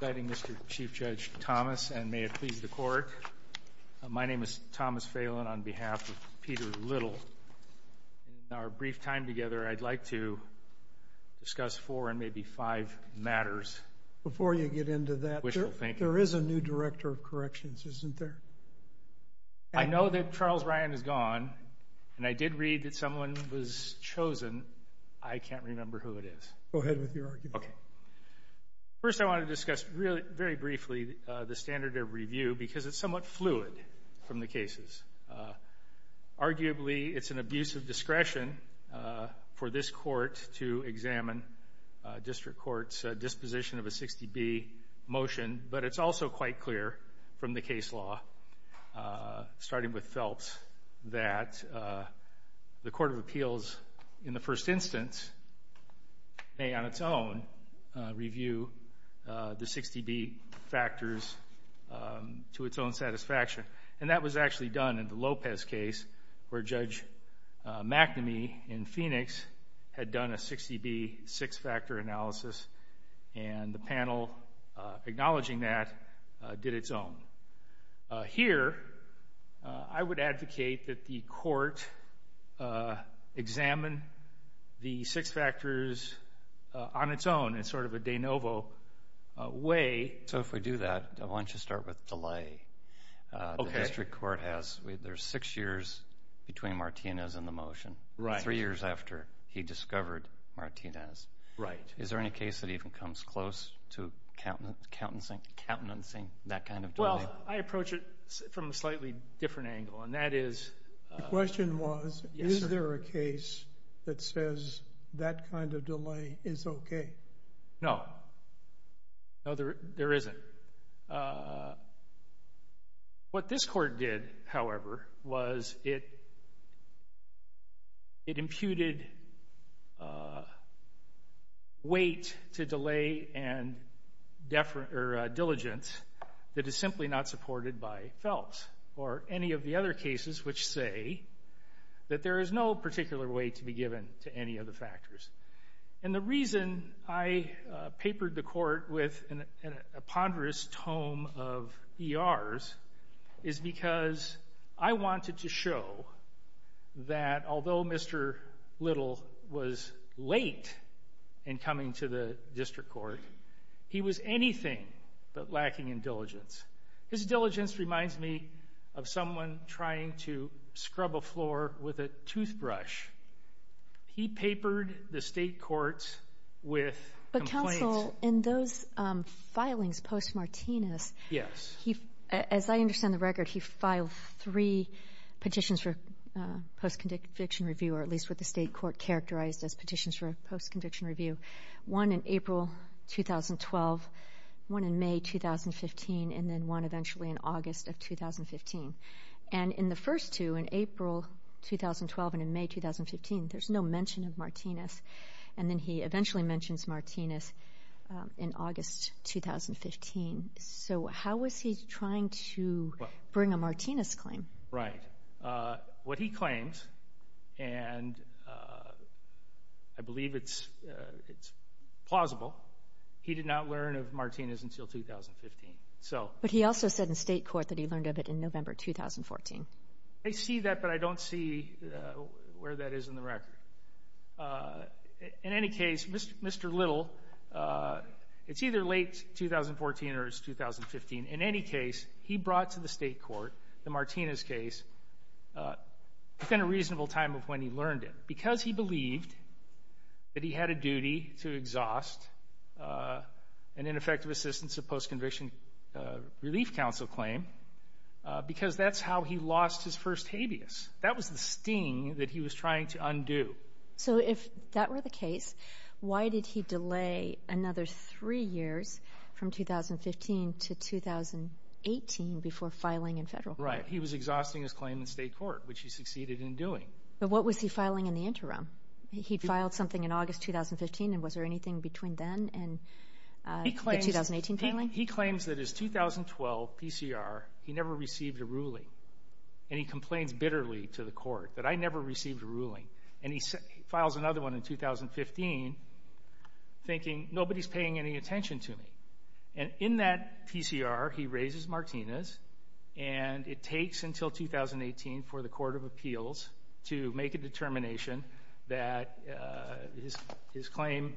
Before you get into that, there is a new Director of Corrections, isn't there? I know that Charles Ryan is gone, and I did read that someone was chosen. I can't remember who it is. Go ahead with your argument. Okay. First, I want to discuss very briefly the standard of review because it's somewhat fluid from the cases. Arguably, it's an abuse of discretion for this Court to examine District Court's disposition of a 60B motion, but it's also quite clear from the case law, starting with Phelps, that the Court of Appeals in the first instance may on its own review the 60B factors to its own satisfaction. And that was actually done in the Lopez case where Judge McNamee in Phoenix had done a 60B six-factor analysis, and the panel acknowledging that did its own. Here, I would advocate that the Court examine the six factors on its own in sort of a de novo way. So if we do that, why don't you start with delay? Okay. The District Court has six years between Martinez and the motion, three years after he discovered Martinez. Right. Is there any case that even comes close to countenancing that kind of delay? Well, I approach it from a slightly different angle, and that is— The question was, is there a case that says that kind of delay is okay? No. No, there isn't. What this court did, however, was it imputed weight to delay and diligence that is simply not supported by Phelps or any of the other cases which say that there is no particular way to be given to any of the factors. And the reason I papered the court with a ponderous tome of ERs is because I wanted to show that although Mr. Little was late in coming to the District Court, he was anything but lacking in diligence. His diligence reminds me of someone trying to scrub a floor with a toothbrush. He papered the state courts with complaints. But, counsel, in those filings post-Martinez— Yes. As I understand the record, he filed three petitions for post-conviction review, or at least what the state court characterized as petitions for post-conviction review, one in April 2012, one in May 2015, and then one eventually in August of 2015. And in the first two, in April 2012 and in May 2015, there's no mention of Martinez. And then he eventually mentions Martinez in August 2015. So how was he trying to bring a Martinez claim? Right. What he claimed, and I believe it's plausible, he did not learn of Martinez until 2015. But he also said in state court that he learned of it in November 2014. I see that, but I don't see where that is in the record. In any case, Mr. Little, it's either late 2014 or it's 2015. In any case, he brought to the state court the Martinez case within a reasonable time of when he learned it because he believed that he had a duty to exhaust an ineffective assistance of post-conviction relief counsel claim because that's how he lost his first habeas. That was the sting that he was trying to undo. So if that were the case, why did he delay another three years from 2015 to 2018 before filing in federal court? Right. He was exhausting his claim in state court, which he succeeded in doing. But what was he filing in the interim? He filed something in August 2015, and was there anything between then and the 2018 filing? He claims that his 2012 PCR, he never received a ruling, and he complains bitterly to the court that I never received a ruling. And he files another one in 2015 thinking nobody's paying any attention to me. And in that PCR, he raises Martinez, and it takes until 2018 for the court of appeals to make a determination that his claim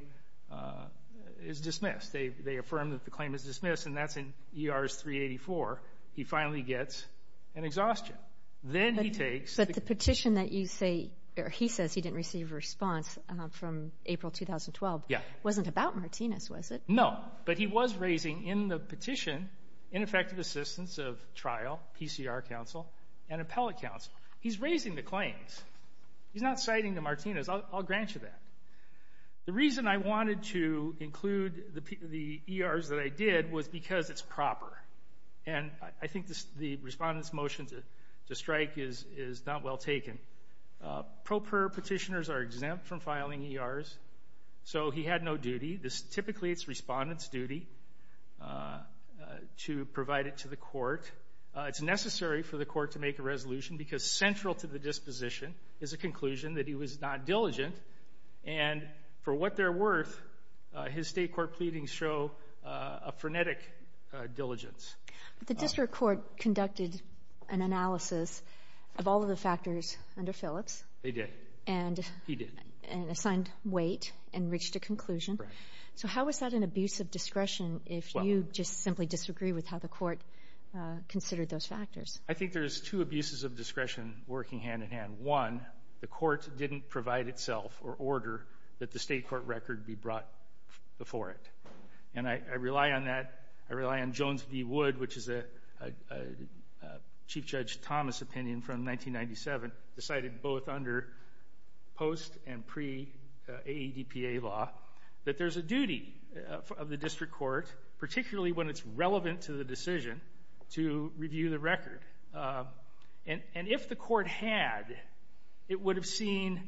is dismissed. They affirm that the claim is dismissed, and that's in E.R.'s 384. He finally gets an exhaustion. Then he takes the ---- But the petition that you say or he says he didn't receive a response from April 2012 ---- Yeah. ---- wasn't about Martinez, was it? No. But he was raising in the petition ineffective assistance of trial, PCR counsel, and appellate counsel. He's raising the claims. He's not citing the Martinez. I'll grant you that. The reason I wanted to include the E.R.'s that I did was because it's proper. And I think the respondent's motion to strike is not well taken. Pro per petitioners are exempt from filing E.R.'s, so he had no duty. Typically, it's respondent's duty to provide it to the court. It's necessary for the court to make a resolution because central to the disposition is a conclusion that he was not diligent. And for what they're worth, his State court pleadings show a frenetic diligence. The district court conducted an analysis of all of the factors under Phillips. They did. And ---- He did. And assigned weight and reached a conclusion. Right. So how is that an abuse of discretion if you just simply disagree with how the court considered those factors? I think there's two abuses of discretion working hand in hand. One, the court didn't provide itself or order that the State court record be brought before it. And I rely on that. I rely on Jones v. Wood, which is a Chief Judge Thomas opinion from 1997, decided both under post and pre-AEDPA law that there's a duty of the district court, particularly when it's relevant to the decision, to review the record. And if the court had, it would have seen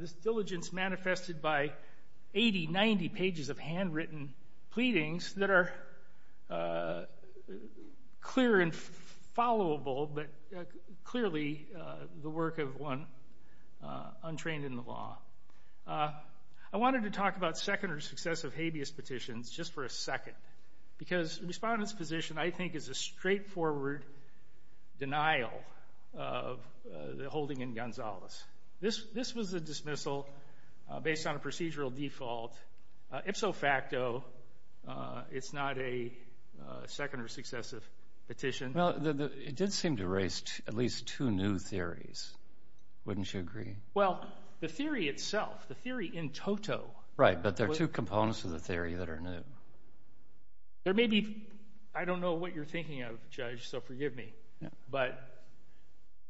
this diligence manifested by 80, 90 pages of handwritten pleadings that are clear and followable, but clearly the work of one untrained in the law. I wanted to talk about second or successive habeas petitions just for a second, because the Respondent's position, I think, is a straightforward denial of the holding in Gonzalez. This was a dismissal based on a procedural default. Ipso facto, it's not a second or successive petition. Well, it did seem to raise at least two new theories. Wouldn't you agree? Well, the theory itself, the theory in toto. Right, but there are two components of the theory that are new. There may be, I don't know what you're thinking of, Judge, so forgive me, but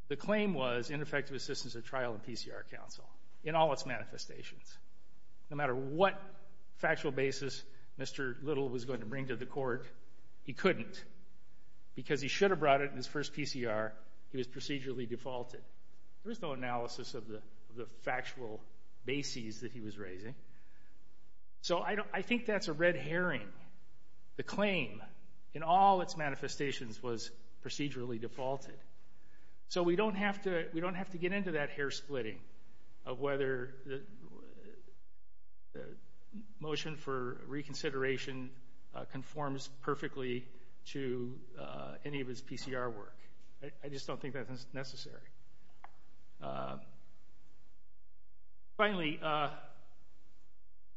the claim was ineffective assistance at trial in PCR counsel, in all its manifestations. No matter what factual basis Mr. Little was going to bring to the court, he couldn't. Because he should have brought it in his first PCR, he was procedurally defaulted. There was no analysis of the factual basis that he was raising. So I think that's a red herring. The claim, in all its manifestations, was procedurally defaulted. So we don't have to get into that hair splitting of whether the motion for reconsideration conforms perfectly to any of his PCR work. I just don't think that's necessary. Finally,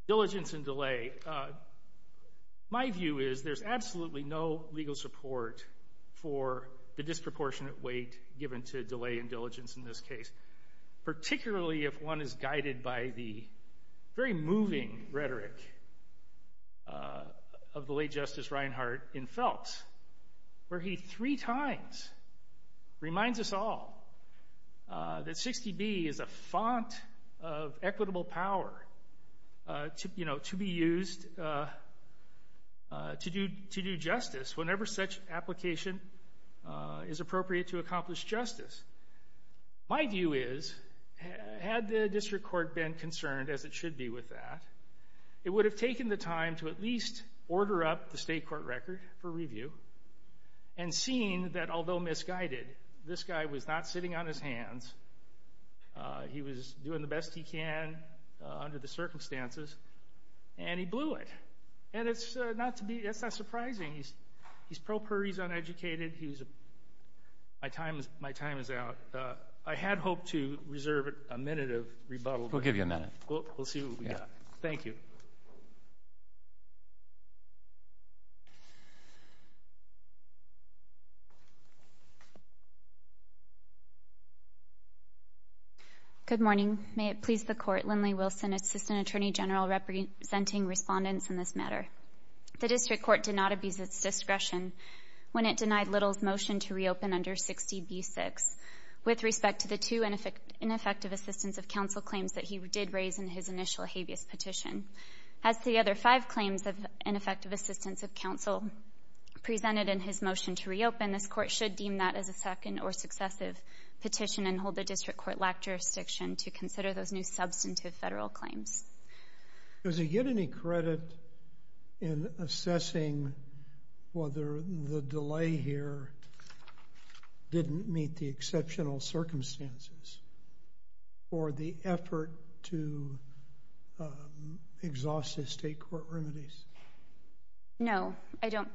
diligence and delay. My view is there's absolutely no legal support for the disproportionate weight given to delay and diligence in this case, particularly if one is guided by the very moving rhetoric of the late Justice Reinhart in Phelps, where he three times reminds us all that 60B is a font of equitable power to be used to do justice whenever such application is appropriate to accomplish justice. My view is, had the district court been concerned, as it should be with that, it would have taken the time to at least order up the state court record for review and seen that, although misguided, this guy was not sitting on his hands. He was doing the best he can under the circumstances, and he blew it. And that's not surprising. He's pro puri, he's uneducated. My time is out. I had hoped to reserve a minute of rebuttal. We'll give you a minute. We'll see what we got. Thank you. Good morning. May it please the Court, Lindley Wilson, Assistant Attorney General, representing respondents in this matter. The district court did not abuse its discretion when it denied Little's motion to reopen under 60B-6 with respect to the two ineffective assistance of counsel claims that he did raise in his initial habeas petition. As the other five claims of ineffective assistance of counsel presented in his motion to reopen, this court should deem that as a second or successive petition and hold the district court-lacked jurisdiction to consider those new substantive federal claims. Does he get any credit in assessing whether the delay here didn't meet the exceptional circumstances or the effort to exhaust his state court remedies? No, I don't.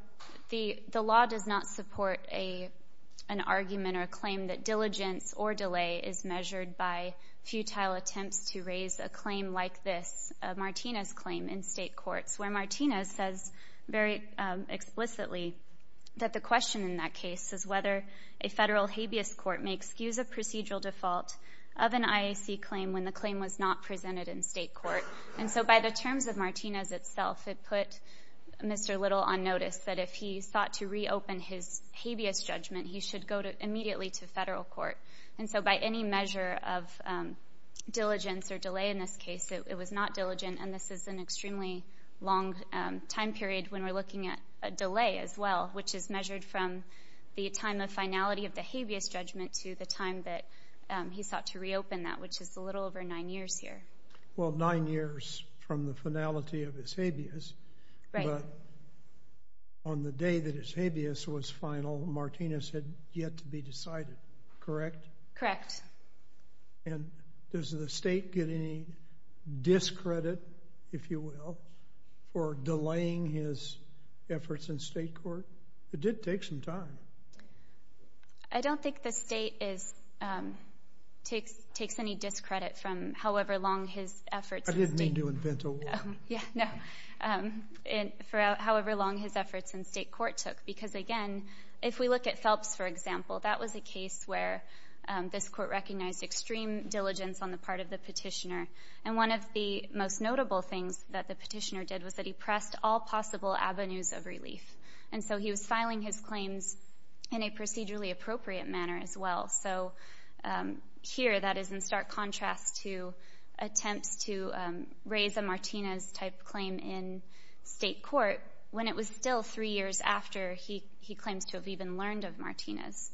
The law does not support an argument or a claim that diligence or delay is measured by futile attempts to raise a claim like this, a Martinez claim in state courts, where Martinez says very explicitly that the question in that case is whether a federal habeas court may excuse a procedural default of an IAC claim when the claim was not presented in state court. And so by the terms of Martinez itself, it put Mr. Little on notice that if he sought to reopen his habeas judgment, he should go immediately to federal court. And so by any measure of diligence or delay in this case, it was not diligent, and this is an extremely long time period when we're looking at a delay as well, which is measured from the time of finality of the habeas judgment to the time that he sought to reopen that, which is a little over nine years here. Well, nine years from the finality of his habeas. Right. But on the day that his habeas was final, Martinez had yet to be decided, correct? Correct. And does the state get any discredit, if you will, for delaying his efforts in state court? It did take some time. I don't think the state takes any discredit from however long his efforts in state. I didn't mean to invent a war. Yeah, no. For however long his efforts in state court took, because, again, if we look at Phelps, for example, that was a case where this Court recognized extreme diligence on the part of the Petitioner. And one of the most notable things that the Petitioner did was that he pressed all possible avenues of relief. And so he was filing his claims in a procedurally appropriate manner as well. So here, that is in stark contrast to attempts to raise a Martinez-type claim in state court when it was still three years after he claims to have even learned of Martinez.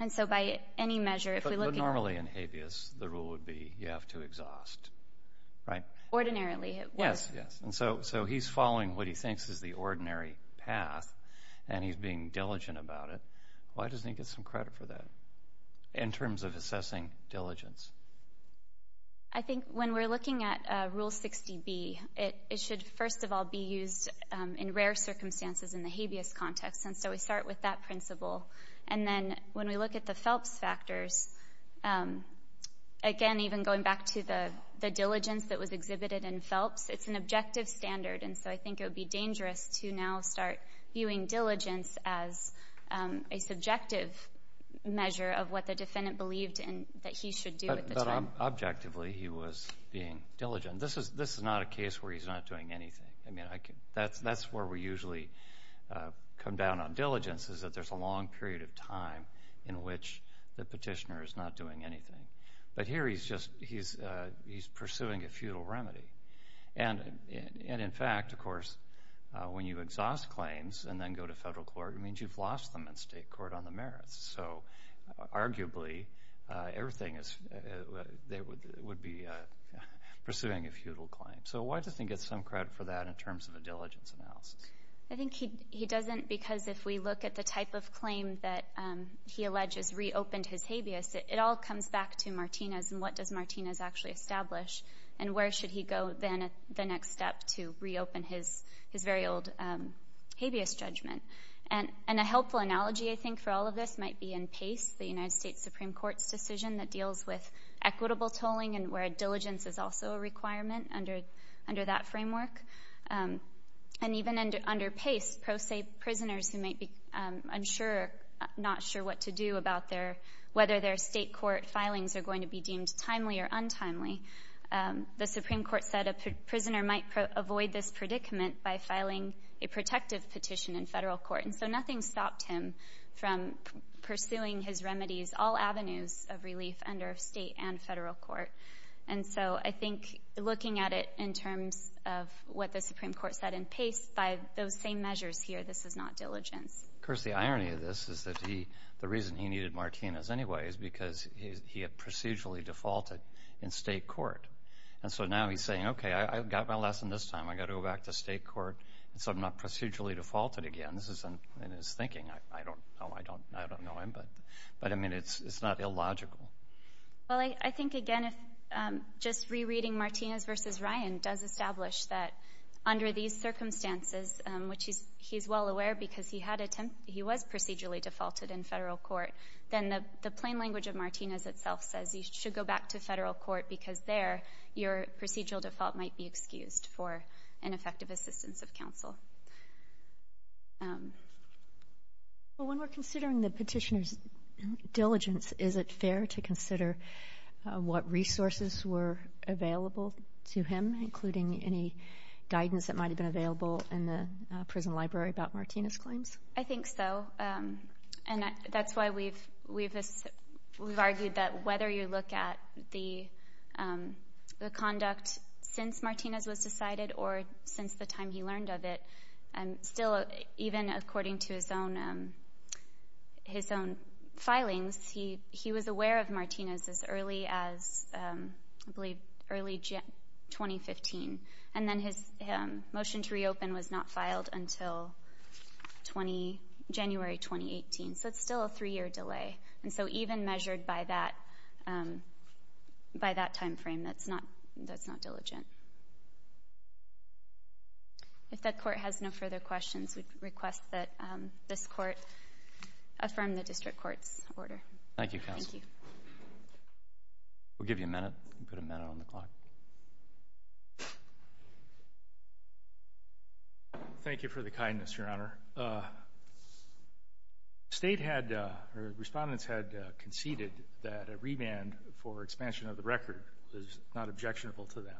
And so by any measure, if we look at that. But normally in habeas, the rule would be you have to exhaust, right? Ordinarily, it would. Yes, yes. And so he's following what he thinks is the ordinary path, and he's being diligent about it. Why doesn't he get some credit for that in terms of assessing diligence? I think when we're looking at Rule 60B, it should, first of all, be used in rare circumstances in the habeas context. And so we start with that principle. And then when we look at the Phelps factors, again, even going back to the diligence that was exhibited in Phelps, it's an objective standard. And so I think it would be dangerous to now start viewing diligence as a subjective measure of what the defendant believed that he should do at the time. But objectively, he was being diligent. This is not a case where he's not doing anything. I mean, that's where we usually come down on diligence is that there's a long period of time in which the petitioner is not doing anything. But here he's pursuing a futile remedy. And in fact, of course, when you exhaust claims and then go to federal court, it means you've lost them in state court on the merits. So arguably, everything is they would be pursuing a futile claim. So why doesn't he get some credit for that in terms of a diligence analysis? I think he doesn't because if we look at the type of claim that he alleges reopened his habeas, it all comes back to Martinez and what does Martinez actually establish and where should he go then at the next step to reopen his very old habeas judgment. And a helpful analogy, I think, for all of this might be in PACE, the United States Supreme Court's decision that deals with equitable tolling and where diligence is also a requirement under that framework. And even under PACE, pro se prisoners who may be unsure, not sure what to do about whether their state court filings are going to be deemed timely or untimely, the Supreme Court said a prisoner might avoid this predicament by filing a protective petition in federal court. And so nothing stopped him from pursuing his remedies, all avenues of relief under state and federal court. And so I think looking at it in terms of what the Supreme Court said in PACE, by those same measures here, this is not diligence. Of course, the irony of this is that the reason he needed Martinez anyway is because he had procedurally defaulted in state court. And so now he's saying, okay, I've got my lesson this time. I've got to go back to state court so I'm not procedurally defaulted again. This isn't in his thinking. I don't know him, but, I mean, it's not illogical. Well, I think, again, just rereading Martinez v. Ryan does establish that under these circumstances, which he's well aware because he was procedurally defaulted in federal court, then the plain language of Martinez itself says you should go back to federal court because there your procedural default might be excused for ineffective assistance of counsel. Well, when we're considering the petitioner's diligence, is it fair to consider what resources were available to him, including any guidance that might have been available in the prison library about Martinez' claims? I think so. And that's why we've argued that whether you look at the conduct since Martinez was decided or since the time he learned of it, still, even according to his own filings, he was aware of Martinez as early as, I believe, early 2015. And then his motion to reopen was not filed until January 2018. So it's still a three-year delay. And so even measured by that timeframe, that's not diligent. If the Court has no further questions, we request that this Court affirm the District Court's order. Thank you, Counsel. Thank you. We'll give you a minute. You can put a minute on the clock. Thank you for the kindness, Your Honor. The State had, or Respondents had conceded that a remand for expansion of the record was not objectionable to them,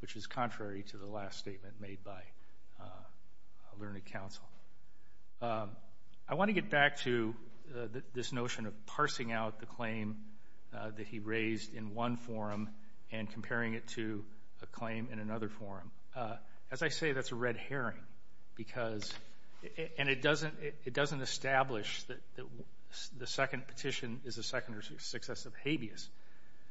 which is contrary to the last statement made by Learned Counsel. I want to get back to this notion of parsing out the claim that he raised in one forum and comparing it to a claim in another forum. As I say, that's a red herring because — and it doesn't establish that the second petition is a second or successive habeas.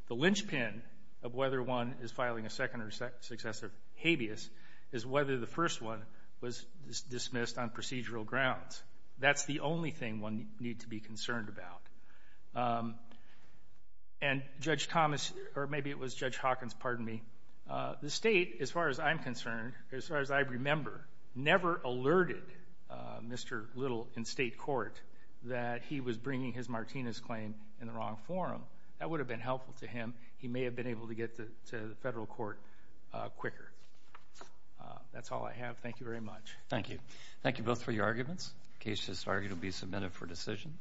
The linchpin of whether one is filing a second or successive habeas is whether the first one was dismissed on procedural grounds. That's the only thing one needs to be concerned about. And Judge Thomas, or maybe it was Judge Hawkins, pardon me, the State, as far as I'm concerned, as far as I remember, never alerted Mr. Little in State court that he was bringing his Martinez claim in the wrong forum. That would have been helpful to him. He may have been able to get to the federal court quicker. That's all I have. Thank you very much. Thank you. Thank you both for your arguments. The case has argued to be submitted for decision.